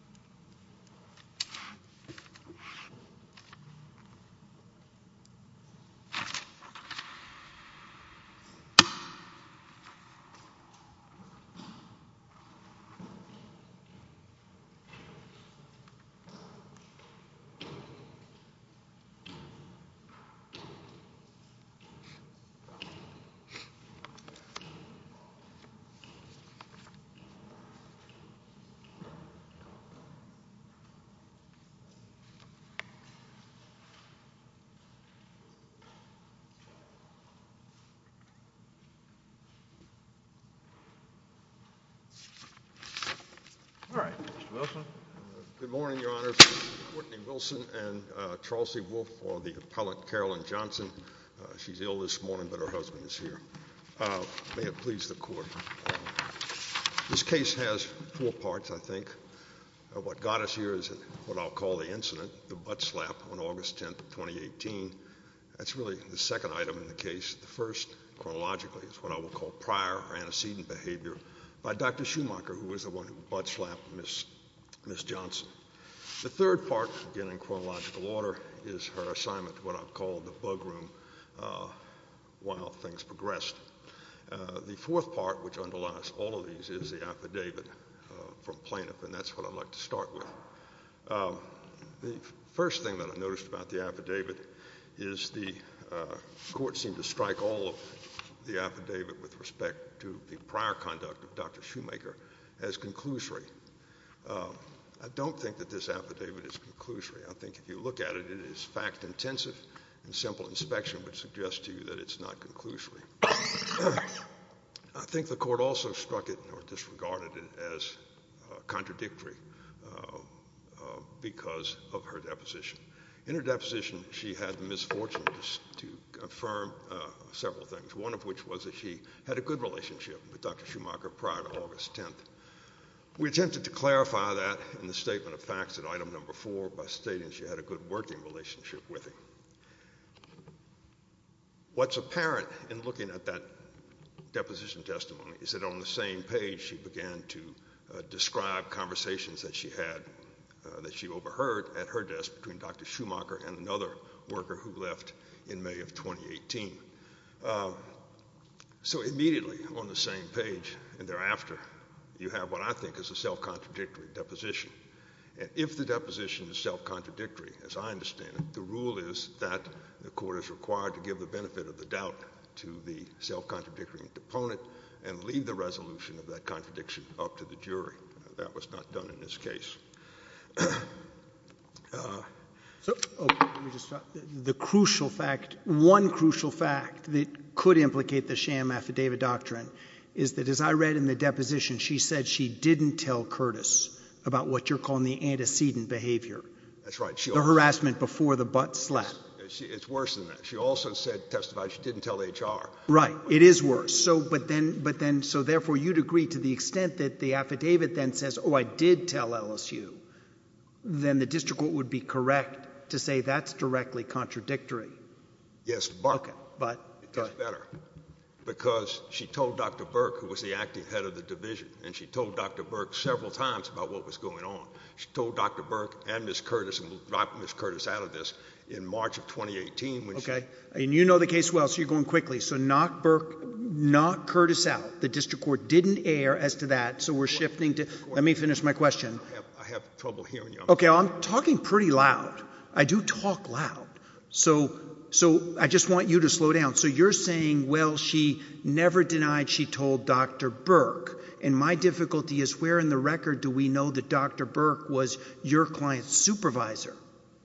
V. Board of Trustees of the University of LSU All right, Mr. Wilson. Good morning, Your Honors. Courtney Wilson and Charles C. Wolfe for the appellate Carolyn Johnson. She's ill this morning, but her husband is here. May it please the Court. This case has four parts, I think. What got us here is what I'll call the incident, the butt slap on August 10, 2018. That's really the second item in the case. The first, chronologically, is what I will call prior antecedent behavior by Dr. Schumacher, who was the one who butt slapped Ms. Johnson. The third part, again in chronological order, is her assignment to what I'll call the bug room while things progressed. The fourth part, which underlies all of these, is the affidavit from plaintiff, and that's what I'd like to start with. The first thing that I noticed about the affidavit is the Court seemed to strike all of the affidavit with respect to the prior conduct of Dr. Schumacher as conclusory. I don't think that this affidavit is conclusory. I think if you look at it, it is fact-intensive, and simple inspection would suggest to you that it's not conclusory. I think the Court also struck it or disregarded it as contradictory because of her deposition. In her deposition, she had the misfortune to confirm several things, one of which was that she had a good relationship with Dr. Schumacher prior to August 10. We attempted to clarify that in the statement of facts at item number four by stating she had a good working relationship with him. What's apparent in looking at that deposition testimony is that on the same page she began to describe conversations that she overheard at her desk between Dr. Schumacher and another worker who left in May of 2018. So immediately on the same page and thereafter, you have what I think is a self-contradictory deposition. And if the deposition is self-contradictory, as I understand it, the rule is that the Court is required to give the benefit of the doubt to the self-contradictory opponent and leave the resolution of that contradiction up to the jury. That was not done in this case. So the crucial fact, one crucial fact that could implicate the sham affidavit doctrine is that as I read in the deposition, she said she didn't tell Curtis about what you're calling the antecedent behavior. That's right. The harassment before the butt slap. It's worse than that. She also testified she didn't tell HR. Right. It is worse. So therefore, you'd agree to the extent that the affidavit then says, oh, I did tell LSU, then the district court would be correct to say that's directly contradictory. Yes, but it does better because she told Dr. Burke, who was the acting head of the division, and she told Dr. Burke several times about what was going on. She told Dr. Burke and Ms. Curtis, and we'll drop Ms. Curtis out of this, in March of 2018. Okay. And you know the case well, so you're going quickly. So knock Burke, knock Curtis out. The district court didn't err as to that, so we're shifting to... Let me finish my question. I have trouble hearing you. Okay. I'm talking pretty loud. I do talk loud. So I just want you to slow down. So you're saying, well, she never denied she told Dr. Burke, and my difficulty is where in the record do we know that Dr. Burke was your client's supervisor?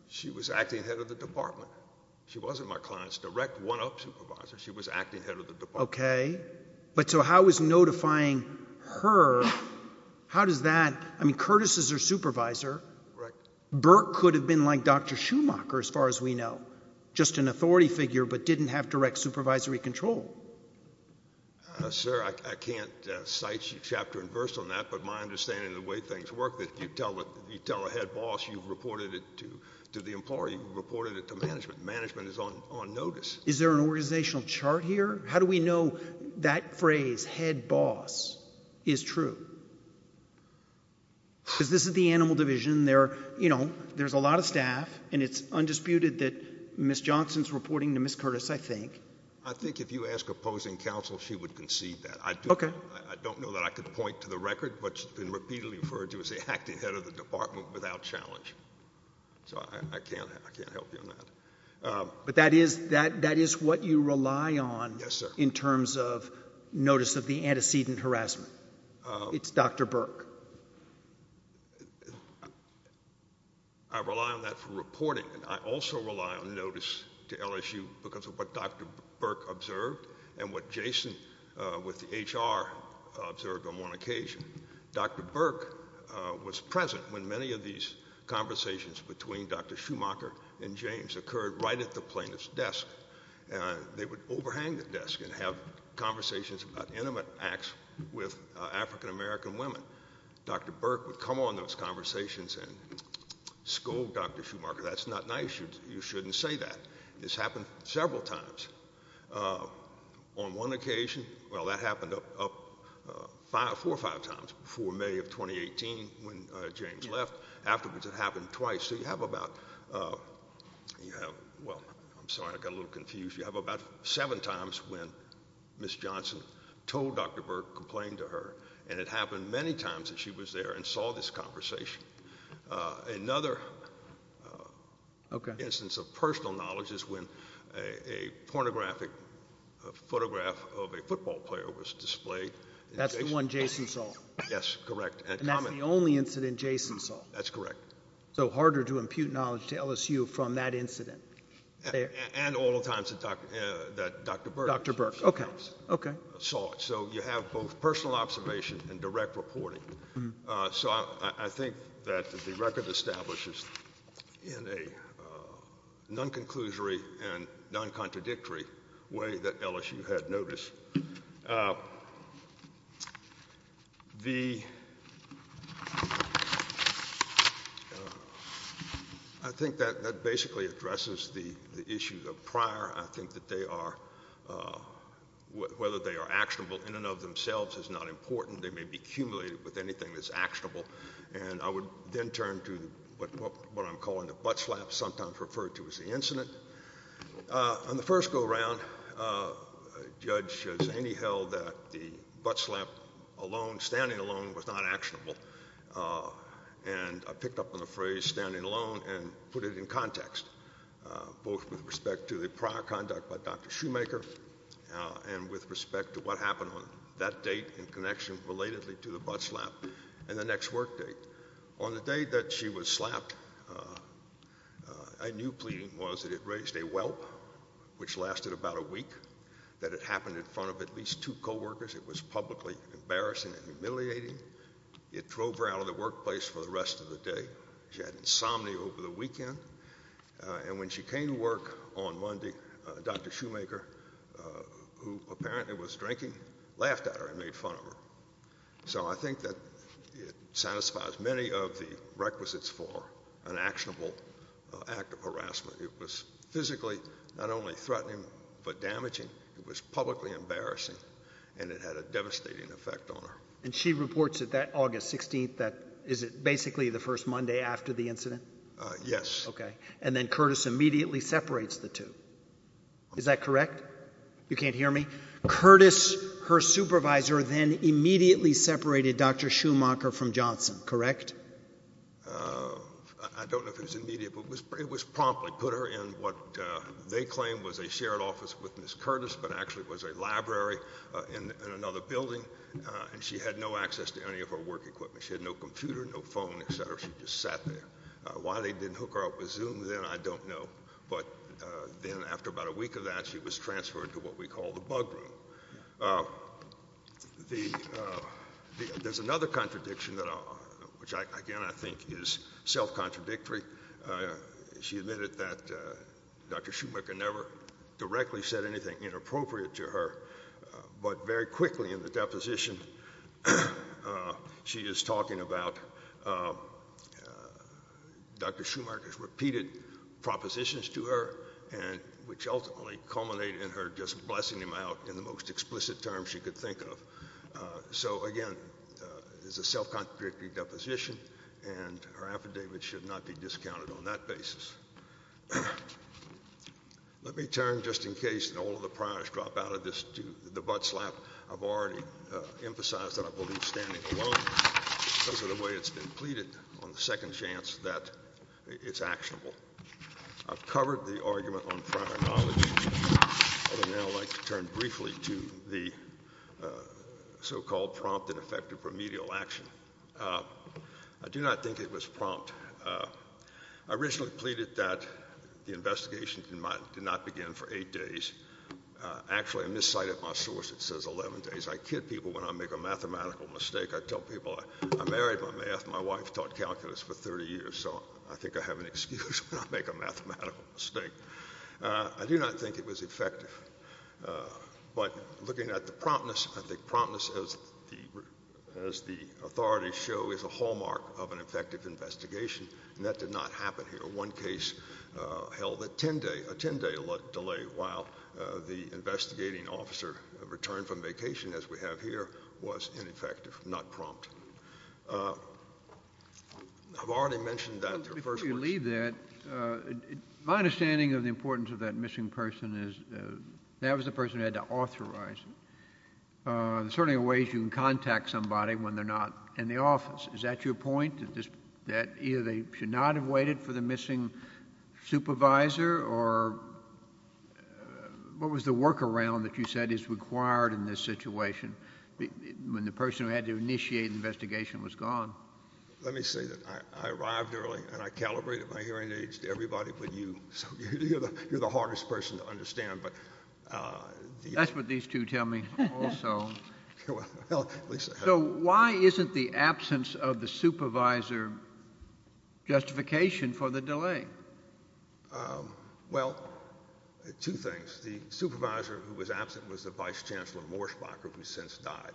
She was acting head of the department. She wasn't my client's direct one-up supervisor. She was acting head of the department. Okay. But so how is notifying her, how does that... I mean, Curtis is her supervisor. Right. Burke could have been like Dr. Schumacher, as far as we know, just an authority figure but didn't have direct supervisory control. Sir, I can't cite chapter and verse on that, but my understanding of the way things work is you tell a head boss you've reported it to the employer, you've reported it to management, and management is on notice. Is there an organizational chart here? How do we know that phrase, head boss, is true? Because this is the animal division. You know, there's a lot of staff, and it's undisputed that Ms. Johnson is reporting to Ms. Curtis, I think. I think if you ask opposing counsel, she would concede that. Okay. I don't know that I could point to the record, but she's been repeatedly referred to as the acting head of the department without challenge. So I can't help you on that. But that is what you rely on in terms of notice of the antecedent harassment. It's Dr. Burke. I rely on that for reporting. I also rely on notice to LSU because of what Dr. Burke observed and what Jason with the HR observed on one occasion. Dr. Burke was present when many of these conversations between Dr. Schumacher and James occurred right at the plaintiff's desk. They would overhang the desk and have conversations about intimate acts with African-American women. Dr. Burke would come on those conversations and scold Dr. Schumacher, that's not nice, you shouldn't say that. This happened several times. On one occasion, well, that happened four or five times before May of 2018 when James left. Afterwards it happened twice. So you have about, well, I'm sorry, I got a little confused. You have about seven times when Ms. Johnson told Dr. Burke, complained to her, and it happened many times that she was there and saw this conversation. Another instance of personal knowledge is when a pornographic photograph of a football player was displayed. That's the one Jason saw? Yes, correct. And that's the only incident Jason saw? That's correct. So harder to impute knowledge to LSU from that incident. And all the times that Dr. Burke saw it. So you have both personal observation and direct reporting. So I think that the record establishes in a non-conclusory and non-contradictory way that LSU had noticed. I think that basically addresses the issue of prior. I think that they are, whether they are actionable in and of themselves is not important. They may be cumulated with anything that's actionable. And I would then turn to what I'm calling the butt slap, sometimes referred to as the incident. On the first go-around, a judge has anyhow that the butt slap alone, standing alone, was not actionable. And I picked up on the phrase standing alone and put it in context, both with respect to the prior conduct by Dr. Shoemaker and with respect to what happened on that date in connection relatedly to the butt slap and the next work date. On the day that she was slapped, I knew pleading was that it raised a whelp, which lasted about a week, that it happened in front of at least two coworkers. It was publicly embarrassing and humiliating. It drove her out of the workplace for the rest of the day. She had insomnia over the weekend. And when she came to work on Monday, Dr. Shoemaker, who apparently was drinking, laughed at her and made fun of her. So I think that it satisfies many of the requisites for an actionable act of harassment. It was physically not only threatening but damaging. It was publicly embarrassing, and it had a devastating effect on her. And she reports that that August 16th, is it basically the first Monday after the incident? Yes. Okay, and then Curtis immediately separates the two. Is that correct? You can't hear me? Curtis, her supervisor, then immediately separated Dr. Shoemaker from Johnson, correct? I don't know if it was immediate, but it was promptly put her in what they claimed was a shared office with Ms. Curtis, but actually it was a library in another building, and she had no access to any of her work equipment. She had no computer, no phone, et cetera. She just sat there. Why they didn't hook her up with Zoom then, I don't know. But then after about a week of that, she was transferred to what we call the bug room. There's another contradiction, which again I think is self-contradictory. She admitted that Dr. Shoemaker never directly said anything inappropriate to her, but very quickly in the deposition she is talking about Dr. Shoemaker's repeated propositions to her, which ultimately culminated in her just blessing him out in the most explicit terms she could think of. So again, it's a self-contradictory deposition, and her affidavit should not be discounted on that basis. Let me turn, just in case all of the priors drop out of the butt slap, I've already emphasized that I believe standing alone because of the way it's been pleaded on the second chance that it's actionable. I've covered the argument on prior knowledge. I would now like to turn briefly to the so-called prompt and effective remedial action. I do not think it was prompt. I originally pleaded that the investigation did not begin for eight days. Actually, I miscited my source. It says 11 days. I kid people when I make a mathematical mistake. I tell people I married my math and my wife taught calculus for 30 years, so I think I have an excuse when I make a mathematical mistake. I do not think it was effective, but looking at the promptness, as the authorities show, is a hallmark of an effective investigation, and that did not happen here. One case held a 10-day delay while the investigating officer returned from vacation, as we have here, was ineffective, not prompt. I've already mentioned that. Before you leave that, my understanding of the importance of that missing person is that was the person who had to authorize it. There certainly are ways you can contact somebody when they're not in the office. Is that your point, that either they should not have waited for the missing supervisor, or what was the workaround that you said is required in this situation when the person who had to initiate the investigation was gone? Let me say that I arrived early, and I calibrated my hearing aids to everybody but you, so you're the hardest person to understand. That's what these two tell me also. So why isn't the absence of the supervisor justification for the delay? Well, two things. The supervisor who was absent was the vice chancellor, Morsbach, who has since died.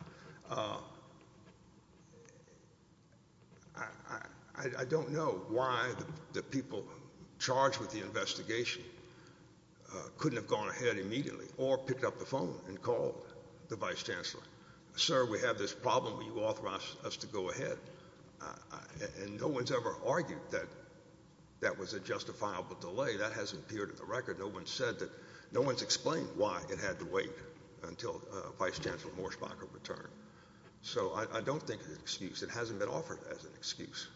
I don't know why the people charged with the investigation couldn't have gone ahead immediately or picked up the phone and called the vice chancellor. Sir, we have this problem. Will you authorize us to go ahead? And no one's ever argued that that was a justifiable delay. That hasn't appeared in the record. No one's explained why it had to wait until Vice Chancellor Morsbach returned. So I don't think it's an excuse. It hasn't been offered as an excuse.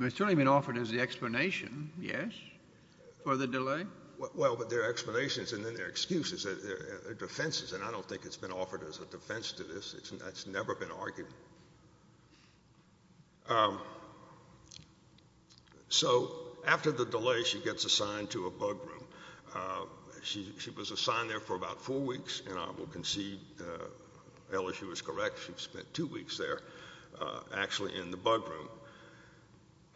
It's certainly been offered as the explanation, yes, for the delay. Well, but there are explanations, and then there are excuses. There are defenses, and I don't think it's been offered as a defense to this. That's never been argued. So after the delay, she gets assigned to a bug room. She was assigned there for about four weeks, and I will concede, Ella, she was correct. She spent two weeks there actually in the bug room.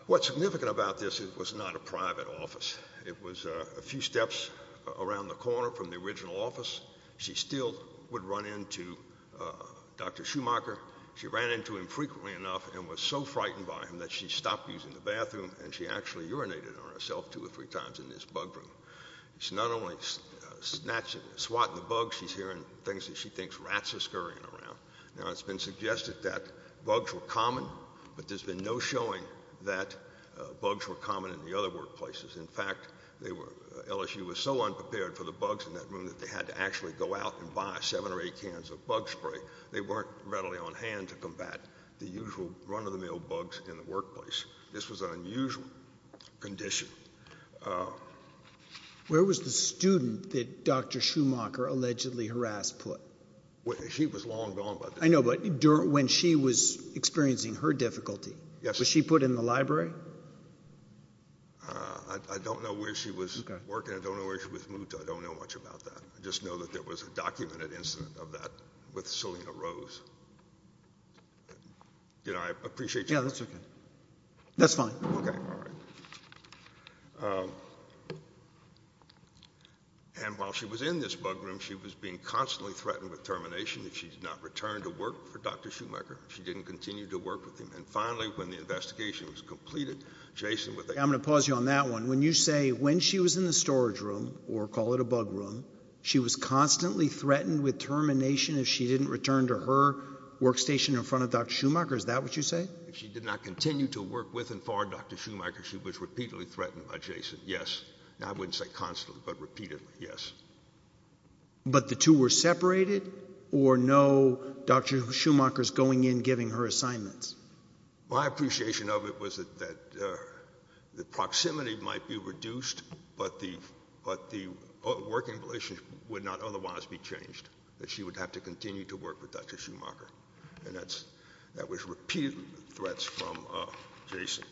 What's significant about this is it was not a private office. It was a few steps around the corner from the original office. She still would run into Dr. Schumacher. She ran into him frequently enough and was so frightened by him that she stopped using the bathroom, and she actually urinated on herself two or three times in this bug room. She's not only swatting the bugs, she's hearing things that she thinks rats are scurrying around. Now, it's been suggested that bugs were common, but there's been no showing that bugs were common in the other workplaces. In fact, LSU was so unprepared for the bugs in that room that they had to actually go out and buy seven or eight cans of bug spray. They weren't readily on hand to combat the usual run-of-the-mill bugs in the workplace. This was an unusual condition. Where was the student that Dr. Schumacher allegedly harassed put? She was long gone. I know, but when she was experiencing her difficulty, was she put in the library? I don't know where she was working. I don't know where she was moved to. I don't know much about that. I just know that there was a documented incident of that with Celina Rose. Did I appreciate your question? Yeah, that's okay. That's fine. Okay, all right. And while she was in this bug room, she was being constantly threatened with termination if she did not return to work for Dr. Schumacher. She didn't continue to work with him. And finally, when the investigation was completed, Jason was able to— I'm going to pause you on that one. When you say when she was in the storage room, or call it a bug room, she was constantly threatened with termination if she didn't return to her workstation in front of Dr. Schumacher. Is that what you say? If she did not continue to work with and for Dr. Schumacher, she was repeatedly threatened by Jason, yes. Now, I wouldn't say constantly, but repeatedly, yes. But the two were separated, or no Dr. Schumacher's going in, giving her assignments? My appreciation of it was that the proximity might be reduced, but the working relationship would not otherwise be changed, that she would have to continue to work with Dr. Schumacher. And that was repeatedly threats from Jason.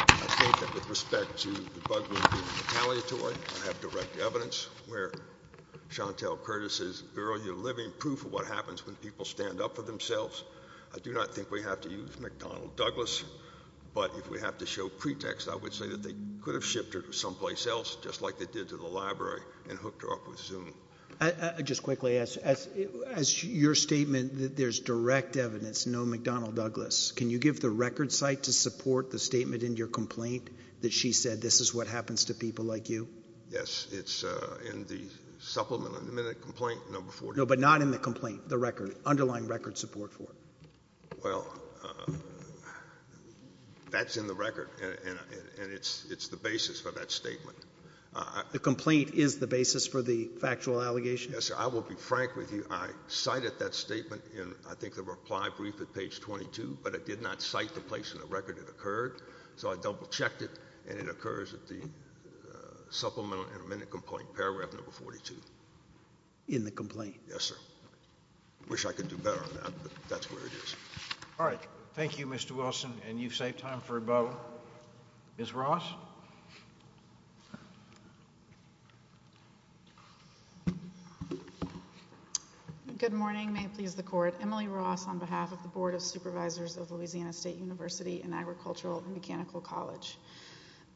I think that with respect to the bug room being retaliatory, I have direct evidence where Chantel Curtis' earlier living proof of what happens when people stand up for themselves. I do not think we have to use McDonnell Douglas, but if we have to show pretext, I would say that they could have shipped her to someplace else, just like they did to the library, and hooked her up with Zoom. Just quickly, as your statement, there's direct evidence, no McDonnell Douglas. Can you give the record site to support the statement in your complaint that she said, this is what happens to people like you? Yes, it's in the Supplemental Admitted Complaint, No. 40. No, but not in the complaint, the record, underlying record support for it. Well, that's in the record, and it's the basis for that statement. The complaint is the basis for the factual allegation? Yes, sir. I will be frank with you. I cited that statement in, I think, the reply brief at page 22, but I did not cite the place in the record it occurred, so I double-checked it, and it occurs at the Supplemental Admitted Complaint, paragraph number 42. In the complaint? Yes, sir. I wish I could do better on that, but that's where it is. All right. Thank you, Mr. Wilson, and you've saved time for a bow. Ms. Ross? Good morning. May it please the Court. Emily Ross on behalf of the Board of Supervisors of Louisiana State University and Agricultural and Mechanical College.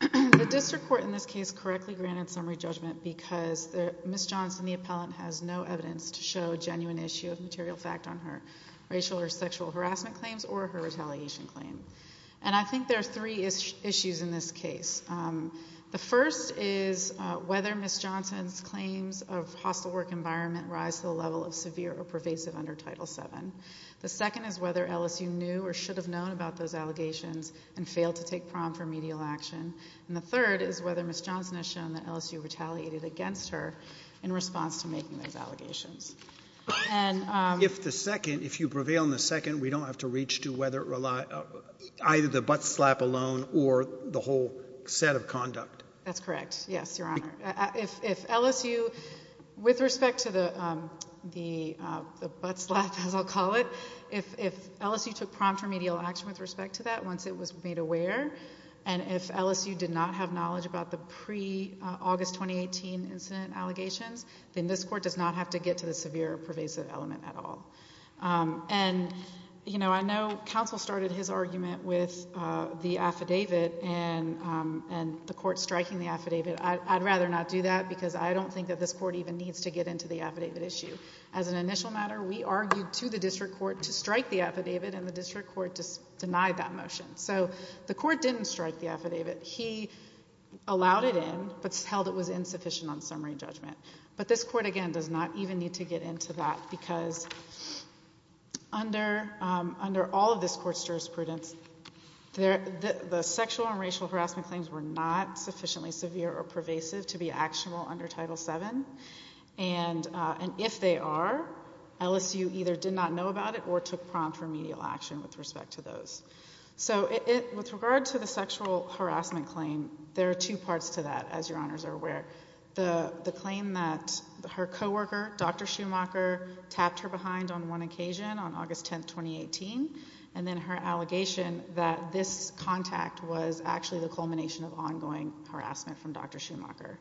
The district court in this case correctly granted summary judgment because Ms. Johnson, the appellant, has no evidence to show a genuine issue of material fact on her racial or sexual harassment claims or her retaliation claim. And I think there are three issues in this case. The first is whether Ms. Johnson's claims of hostile work environment rise to the level of severe or pervasive under Title VII. The second is whether LSU knew or should have known about those allegations and failed to take prompt remedial action. And the third is whether Ms. Johnson has shown that LSU retaliated against her in response to making those allegations. If the second, if you prevail on the second, we don't have to reach to whether it relied, either the butt slap alone or the whole set of conduct. That's correct. Yes, Your Honor. If LSU, with respect to the butt slap, as I'll call it, if LSU took prompt remedial action with respect to that once it was made aware, and if LSU did not have knowledge about the pre-August 2018 incident allegations, then this Court does not have to get to the severe or pervasive element at all. And, you know, I know counsel started his argument with the affidavit and the Court striking the affidavit. I'd rather not do that because I don't think that this Court even needs to get into the affidavit issue. As an initial matter, we argued to the District Court to strike the affidavit and the District Court denied that motion. So the Court didn't strike the affidavit. He allowed it in but held it was insufficient on summary judgment. But this Court, again, does not even need to get into that because under all of this Court's jurisprudence, the sexual and racial harassment claims were not sufficiently severe or pervasive to be actionable under Title VII. And if they are, LSU either did not know about it or took prompt remedial action with respect to those. So with regard to the sexual harassment claim, there are two parts to that, as Your Honors are aware. The claim that her coworker, Dr. Schumacher, tapped her behind on one occasion on August 10, 2018, and then her allegation that this contact was actually the culmination of ongoing harassment from Dr. Schumacher.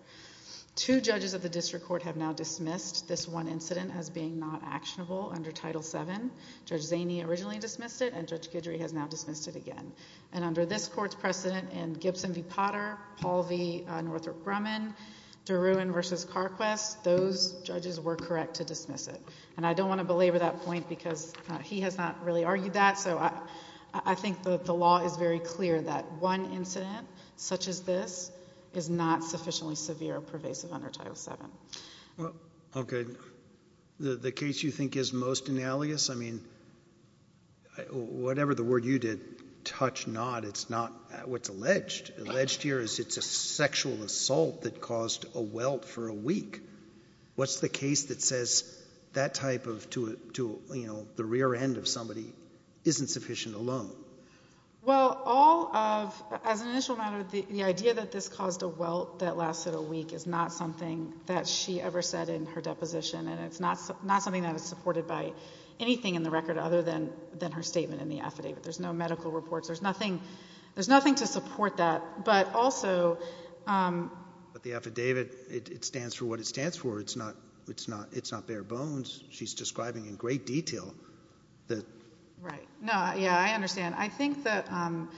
Two judges of the District Court have now dismissed this one incident as being not actionable under Title VII. Judge Zaney originally dismissed it, and Judge Guidry has now dismissed it again. And under this Court's precedent in Gibson v. Potter, Paul v. Northrop Grumman, Duruan v. Carquess, those judges were correct to dismiss it. And I don't want to belabor that point because he has not really argued that. So I think that the law is very clear that one incident such as this is not sufficiently severe or pervasive under Title VII. Okay. The case you think is most analogous, I mean, whatever the word you did, touch not, it's not what's alleged. Alleged here is it's a sexual assault that caused a welt for a week. What's the case that says that type of to, you know, the rear end of somebody isn't sufficient alone? Well, all of, as an initial matter, the idea that this caused a welt that lasted a week is not something that she ever said in her deposition, and it's not something that is supported by anything in the record other than her statement in the affidavit. There's no medical reports. There's nothing to support that. But the affidavit, it stands for what it stands for. It's not bare bones. She's describing in great detail. Right. Yeah, I understand. I think the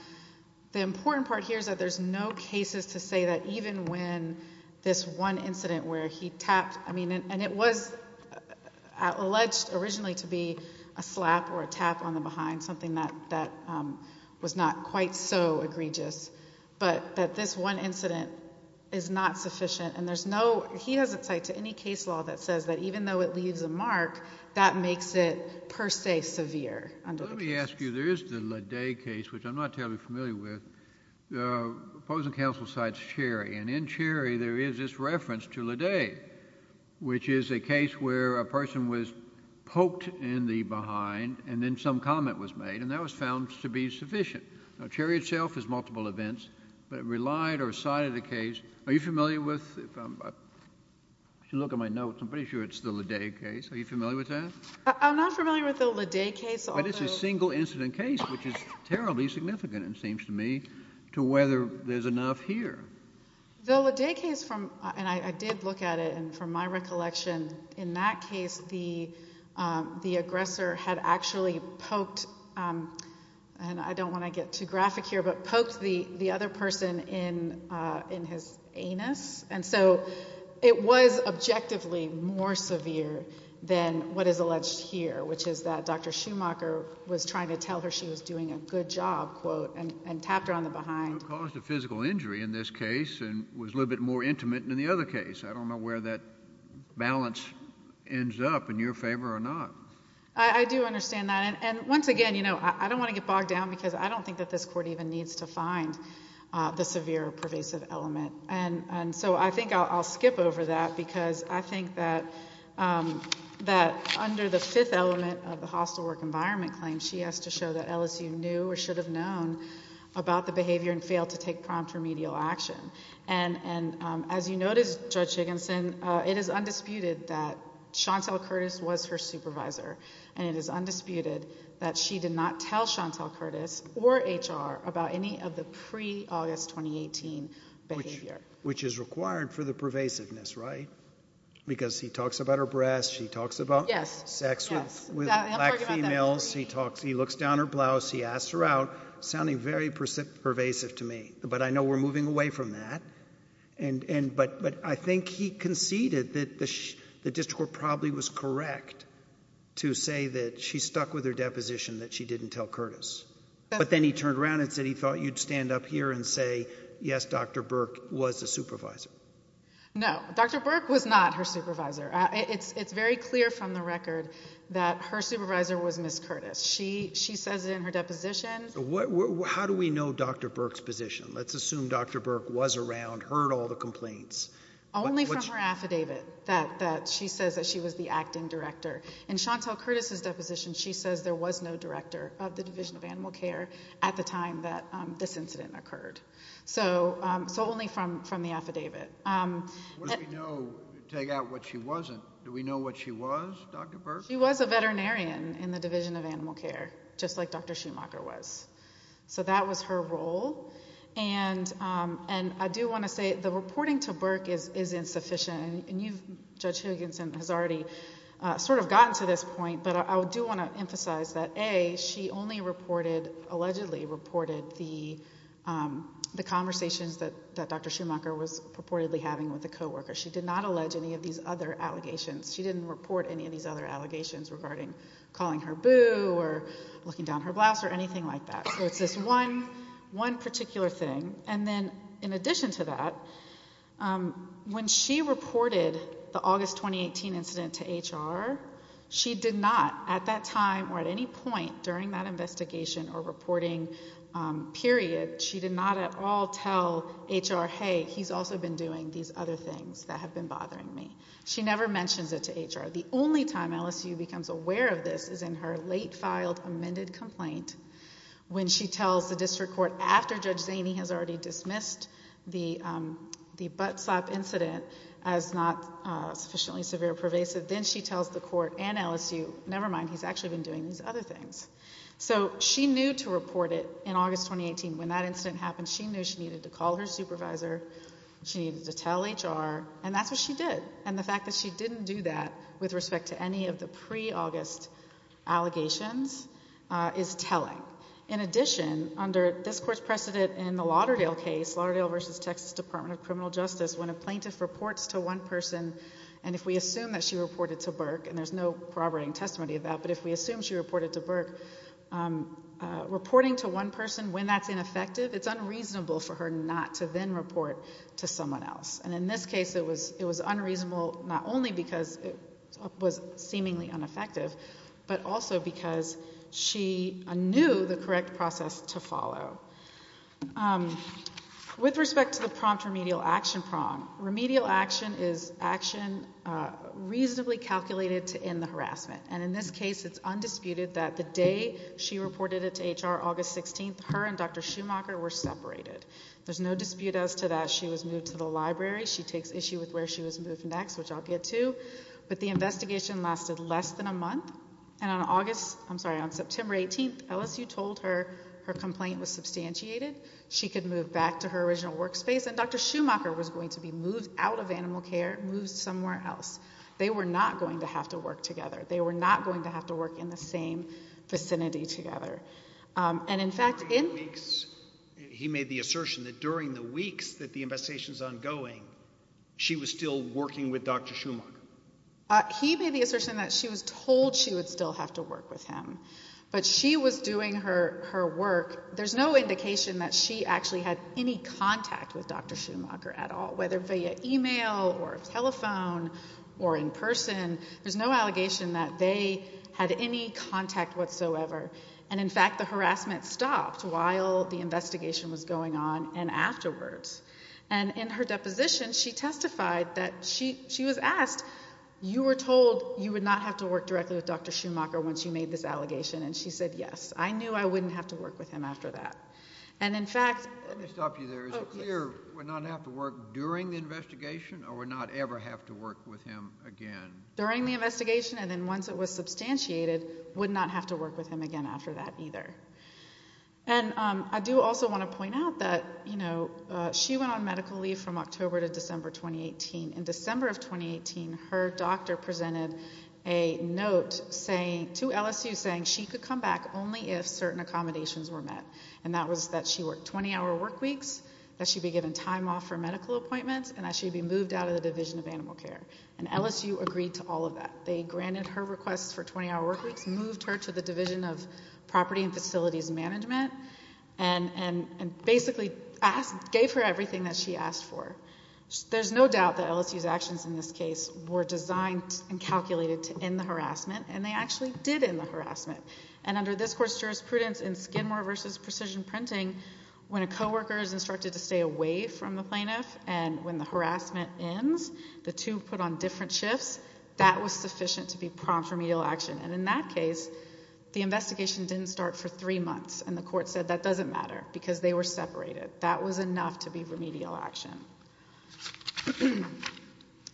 important part here is that there's no cases to say that even when this one incident where he tapped, I mean, and it was alleged originally to be a slap or a tap on the behind, something that was not quite so egregious. But that this one incident is not sufficient, and there's no, he doesn't cite to any case law that says that even though it leaves a mark, that makes it per se severe under the cases. Let me ask you, there is the Lede case, which I'm not terribly familiar with. The opposing counsel cites Cherry, and in Cherry there is this reference to Lede, which is a case where a person was poked in the behind and then some comment was made, and that was found to be sufficient. Cherry itself is multiple events, but it relied or cited a case. Are you familiar with, if you look at my notes, I'm pretty sure it's the Lede case. Are you familiar with that? I'm not familiar with the Lede case. But it's a single incident case, which is terribly significant, it seems to me, to whether there's enough here. The Lede case, and I did look at it, and from my recollection, in that case the aggressor had actually poked, and I don't want to get too graphic here, but poked the other person in his anus. And so it was objectively more severe than what is alleged here, which is that Dr. Schumacher was trying to tell her she was doing a good job, quote, and tapped her on the behind. Caused a physical injury in this case and was a little bit more intimate than the other case. I don't know where that balance ends up, in your favor or not. I do understand that. And once again, you know, I don't want to get bogged down because I don't think that this court even needs to find the severe pervasive element. And so I think I'll skip over that because I think that under the fifth element of the hostile work environment claim, she has to show that LSU knew or should have known about the behavior and failed to take prompt remedial action. And as you notice, Judge Jigginson, it is undisputed that Chantel Curtis was her supervisor, and it is undisputed that she did not tell Chantel Curtis or HR about any of the pre-August 2018 behavior. Which is required for the pervasiveness, right? Because he talks about her breasts. She talks about sex with black females. He looks down her blouse. He asks her out, sounding very pervasive to me. But I know we're moving away from that. But I think he conceded that the district court probably was correct to say that she stuck with her deposition, that she didn't tell Curtis. But then he turned around and said he thought you'd stand up here and say, yes, Dr. Burke was a supervisor. No, Dr. Burke was not her supervisor. It's very clear from the record that her supervisor was Ms. Curtis. She says it in her deposition. How do we know Dr. Burke's position? Let's assume Dr. Burke was around, heard all the complaints. Only from her affidavit that she says that she was the acting director. In Chantel Curtis's deposition, she says there was no director of the Division of Animal Care at the time that this incident occurred. So only from the affidavit. What do we know to take out what she wasn't? Do we know what she was, Dr. Burke? She was a veterinarian in the Division of Animal Care, just like Dr. Schumacher was. So that was her role. And I do want to say the reporting to Burke is insufficient. And Judge Huygensen has already sort of gotten to this point. But I do want to emphasize that, A, she only reported, allegedly reported, the conversations that Dr. Schumacher was purportedly having with the co-worker. She did not allege any of these other allegations. She didn't report any of these other allegations regarding calling her boo or looking down her blouse or anything like that. So it's this one particular thing. And then in addition to that, when she reported the August 2018 incident to HR, she did not at that time or at any point during that investigation or reporting period, she did not at all tell HR, hey, he's also been doing these other things that have been bothering me. She never mentions it to HR. The only time LSU becomes aware of this is in her late-filed amended complaint when she tells the district court, after Judge Zaney has already dismissed the butt slap incident as not sufficiently severe or pervasive, then she tells the court and LSU, never mind, he's actually been doing these other things. So she knew to report it in August 2018. When that incident happened, she knew she needed to call her supervisor. She needed to tell HR. And that's what she did. And the fact that she didn't do that with respect to any of the pre-August allegations is telling. In addition, under this court's precedent in the Lauderdale case, Lauderdale v. Texas Department of Criminal Justice, when a plaintiff reports to one person, and if we assume that she reported to Burke, and there's no corroborating testimony of that, but if we assume she reported to Burke, reporting to one person when that's ineffective, it's unreasonable for her not to then report to someone else. And in this case, it was unreasonable not only because it was seemingly ineffective, but also because she knew the correct process to follow. With respect to the prompt remedial action prong, remedial action is action reasonably calculated to end the harassment. And in this case, it's undisputed that the day she reported it to HR, August 16th, her and Dr. Schumacher were separated. There's no dispute as to that she was moved to the library. She takes issue with where she was moved next, which I'll get to. But the investigation lasted less than a month. And on September 18th, LSU told her her complaint was substantiated. She could move back to her original workspace. And Dr. Schumacher was going to be moved out of animal care, moved somewhere else. They were not going to have to work together. They were not going to have to work in the same vicinity together. And, in fact, in- He made the assertion that during the weeks that the investigation is ongoing, she was still working with Dr. Schumacher. He made the assertion that she was told she would still have to work with him. But she was doing her work. There's no indication that she actually had any contact with Dr. Schumacher at all, whether via e-mail or telephone or in person. There's no allegation that they had any contact whatsoever. And, in fact, the harassment stopped while the investigation was going on and afterwards. And in her deposition, she testified that she was asked, you were told you would not have to work directly with Dr. Schumacher once you made this allegation. And she said, yes, I knew I wouldn't have to work with him after that. And, in fact- Let me stop you there. Is it clear we're not going to have to work during the investigation or we're not ever going to have to work with him again? During the investigation and then once it was substantiated, we would not have to work with him again after that either. And I do also want to point out that she went on medical leave from October to December 2018. In December of 2018, her doctor presented a note to LSU saying she could come back only if certain accommodations were met. And that was that she work 20-hour work weeks, that she be given time off for medical appointments, and that she be moved out of the Division of Animal Care. And LSU agreed to all of that. They granted her requests for 20-hour work weeks, moved her to the Division of Property and Facilities Management, and basically gave her everything that she asked for. There's no doubt that LSU's actions in this case were designed and calculated to end the harassment, and they actually did end the harassment. And under this court's jurisprudence in Skidmore v. Precision Printing, when a coworker is instructed to stay away from the plaintiff and when the harassment ends, the two put on different shifts, that was sufficient to be prompt remedial action. And in that case, the investigation didn't start for three months, and the court said that doesn't matter because they were separated. That was enough to be remedial action.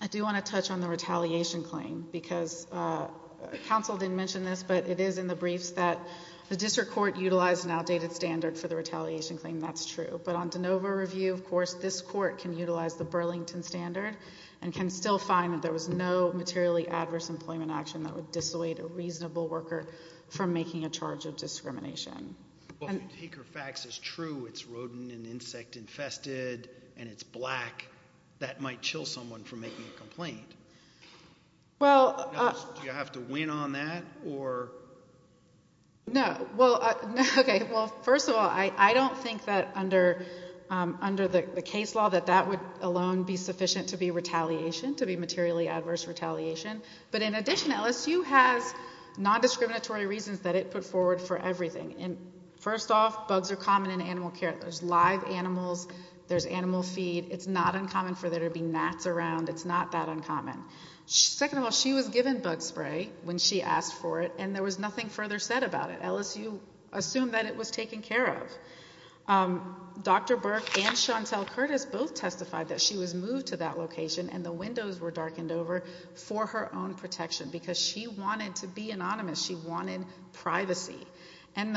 I do want to touch on the retaliation claim because counsel didn't mention this, but it is in the briefs that the district court utilized an outdated standard for the retaliation claim. That's true. But on DeNova review, of course, this court can utilize the Burlington standard and can still find that there was no materially adverse employment action that would dissuade a reasonable worker from making a charge of discrimination. Well, if you take her facts as true, it's rodent and insect infested, and it's black, that might chill someone from making a complaint. Do you have to win on that? No. Okay, well, first of all, I don't think that under the case law that that would alone be sufficient to be retaliation, to be materially adverse retaliation. But in addition, LSU has nondiscriminatory reasons that it put forward for everything. First off, bugs are common in animal care. There's live animals. There's animal feed. It's not uncommon for there to be gnats around. It's not that uncommon. Second of all, she was given bug spray when she asked for it, and there was nothing further said about it. LSU assumed that it was taken care of. Dr. Burke and Chantel Curtis both testified that she was moved to that location and the windows were darkened over for her own protection because she wanted to be anonymous. She wanted privacy. And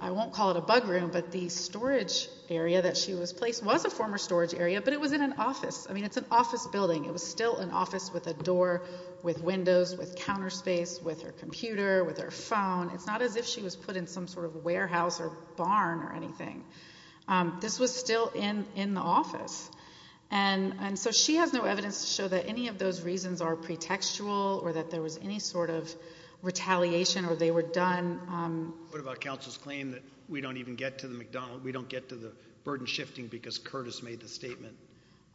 I won't call it a bug room, but the storage area that she was placed in was a former storage area, but it was in an office. I mean, it's an office building. It was still an office with a door, with windows, with counter space, with her computer, with her phone. It's not as if she was put in some sort of warehouse or barn or anything. This was still in the office. And so she has no evidence to show that any of those reasons are pretextual or that there was any sort of retaliation or they were done. What about counsel's claim that we don't even get to the McDonald's, we don't get to the burden shifting because Curtis made the statement?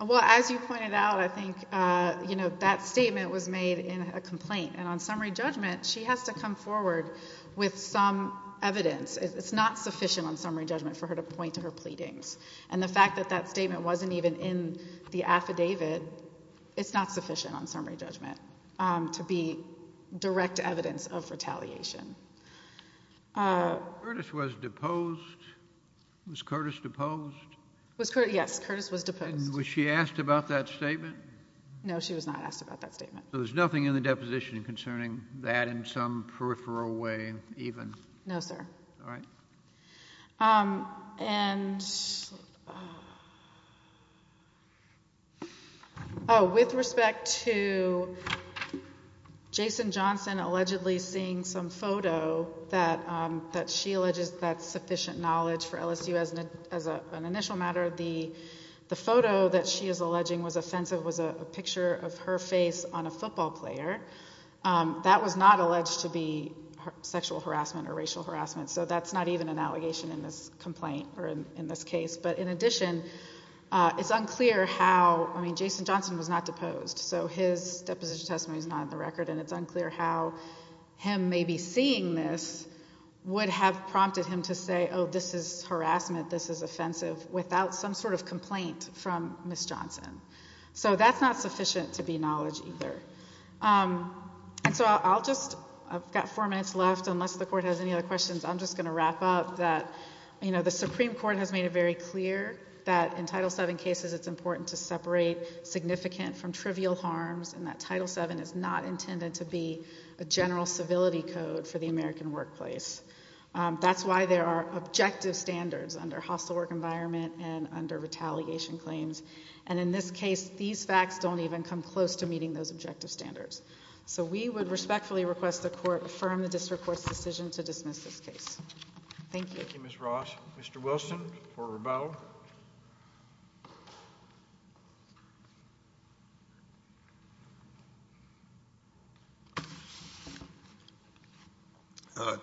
Well, as you pointed out, I think that statement was made in a complaint, and on summary judgment she has to come forward with some evidence. It's not sufficient on summary judgment for her to point to her pleadings. And the fact that that statement wasn't even in the affidavit, it's not sufficient on summary judgment to be direct evidence of retaliation. Curtis was deposed. Was Curtis deposed? Yes, Curtis was deposed. And was she asked about that statement? No, she was not asked about that statement. So there's nothing in the deposition concerning that in some peripheral way even? No, sir. All right. And with respect to Jason Johnson allegedly seeing some photo that she alleges that sufficient knowledge for LSU as an initial matter, the photo that she is alleging was offensive was a picture of her face on a football player. That was not alleged to be sexual harassment or racial harassment, so that's not even an allegation in this complaint or in this case. But in addition, it's unclear how Jason Johnson was not deposed, so his deposition testimony is not on the record, and it's unclear how him maybe seeing this would have prompted him to say, oh, this is harassment, this is offensive, without some sort of complaint from Ms. Johnson. So that's not sufficient to be knowledge either. And so I'll just, I've got four minutes left. Unless the Court has any other questions, I'm just going to wrap up that, you know, the Supreme Court has made it very clear that in Title VII cases it's important to separate significant from trivial harms and that Title VII is not intended to be a general civility code for the American workplace. That's why there are objective standards under hostile work environment and under retaliation claims, and in this case these facts don't even come close to meeting those objective standards. So we would respectfully request the Court affirm the District Court's decision to dismiss this case. Thank you. Thank you, Ms. Ross. Mr. Wilson for rebuttal.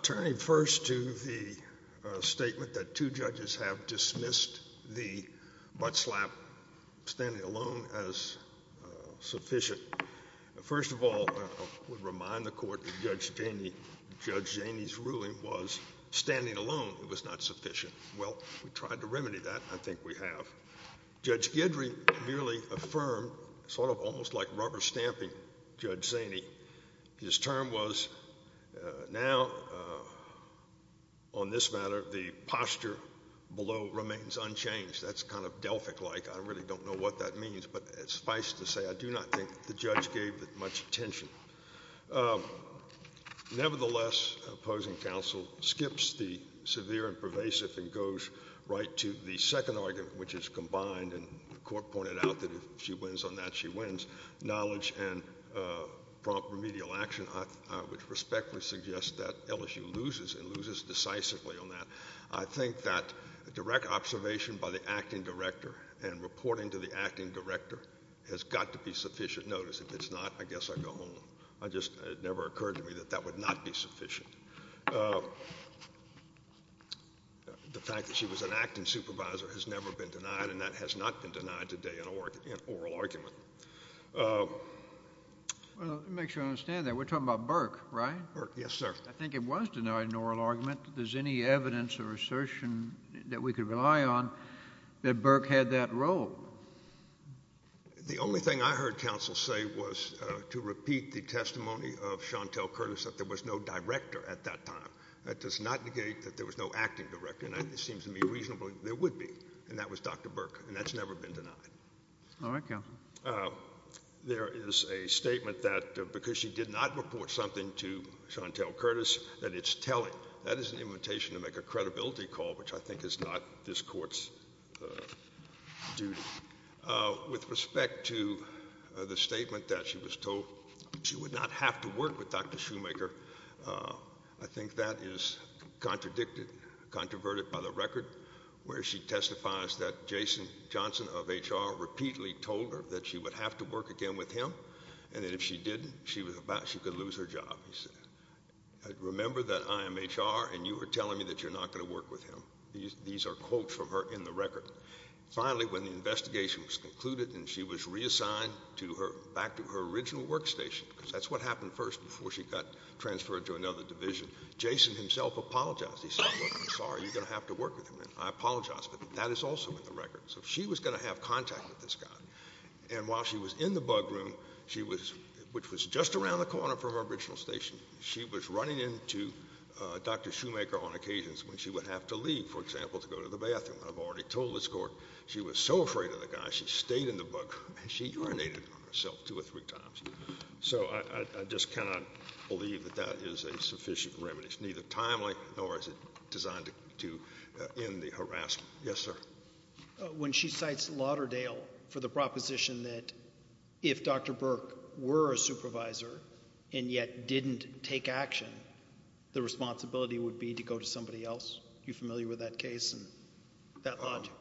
Turning first to the statement that two judges have dismissed the butt slap standing alone as sufficient. First of all, I would remind the Court that Judge Janey's ruling was standing alone. It was not sufficient. Well, we tried to remedy that. I think we have. Judge Guidry merely affirmed, sort of almost like rubber stamping Judge Janey, his term was now on this matter the posture below remains unchanged. That's kind of Delphic-like. I really don't know what that means, but suffice to say I do not think the judge gave it much attention. Nevertheless, opposing counsel skips the severe and pervasive and goes right to the second argument, which is combined, and the Court pointed out that if she wins on that, she wins, knowledge and prompt remedial action, I would respectfully suggest that LSU loses and loses decisively on that. I think that direct observation by the acting director and reporting to the acting director has got to be sufficient notice. If it's not, I guess I go home. It never occurred to me that that would not be sufficient. The fact that she was an acting supervisor has never been denied, and that has not been denied today in oral argument. Let me make sure I understand that. We're talking about Burke, right? Burke, yes, sir. I think it was denied in oral argument. Is there any evidence or assertion that we could rely on that Burke had that role? The only thing I heard counsel say was to repeat the testimony of Chantel Curtis that there was no director at that time. That does not negate that there was no acting director, and it seems to me reasonably there would be, and that was Dr. Burke, and that's never been denied. All right, counsel. There is a statement that because she did not report something to Chantel Curtis that it's telling. That is an invitation to make a credibility call, which I think is not this court's duty. With respect to the statement that she was told she would not have to work with Dr. Shoemaker, I think that is contradicted, controverted by the record where she testifies that Jason Johnson of HR repeatedly told her that she would have to work again with him, and that if she didn't, she could lose her job. Remember that I am HR and you are telling me that you're not going to work with him. These are quotes from her in the record. Finally, when the investigation was concluded and she was reassigned back to her original workstation, because that's what happened first before she got transferred to another division, Jason himself apologized. He said, look, I'm sorry, you're going to have to work with him, and I apologize, but that is also in the record. So she was going to have contact with this guy. And while she was in the bug room, which was just around the corner from her original station, she was running into Dr. Shoemaker on occasions when she would have to leave, for example, to go to the bathroom. I've already told this court she was so afraid of the guy, she stayed in the bug room and she urinated on herself two or three times. So I just cannot believe that that is a sufficient remedy. It's neither timely nor is it designed to end the harassment. Yes, sir. When she cites Lauderdale for the proposition that if Dr. Burke were a supervisor and yet didn't take action, the responsibility would be to go to somebody else. Are you familiar with that case and that logic?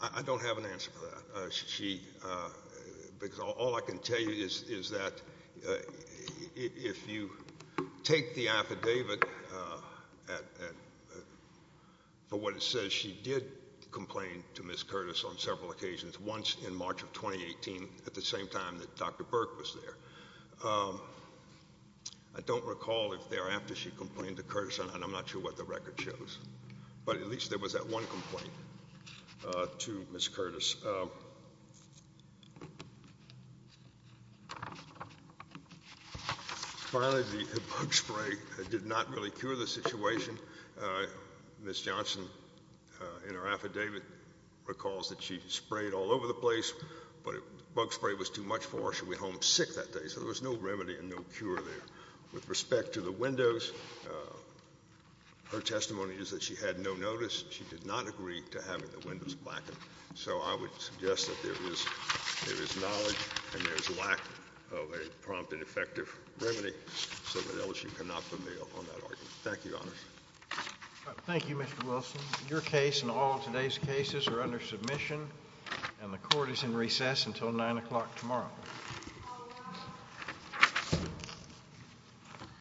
I don't have an answer for that. Because all I can tell you is that if you take the affidavit, for what it says, she did complain to Ms. Curtis on several occasions, once in March of 2018, at the same time that Dr. Burke was there. I don't recall if thereafter she complained to Curtis, and I'm not sure what the record shows. But at least there was that one complaint to Ms. Curtis. Finally, the bug spray did not really cure the situation. Ms. Johnson, in her affidavit, recalls that she sprayed all over the place, but the bug spray was too much for her. She went home sick that day. So there was no remedy and no cure there. With respect to the windows, her testimony is that she had no notice. She did not agree to having the windows blackened. So I would suggest that there is knowledge and there is a lack of a prompt and effective remedy so that Elisha cannot prevail on that argument. Thank you, Your Honor. Thank you, Mr. Wilson. Your case and all of today's cases are under submission, and the Court is in recess until 9 o'clock tomorrow.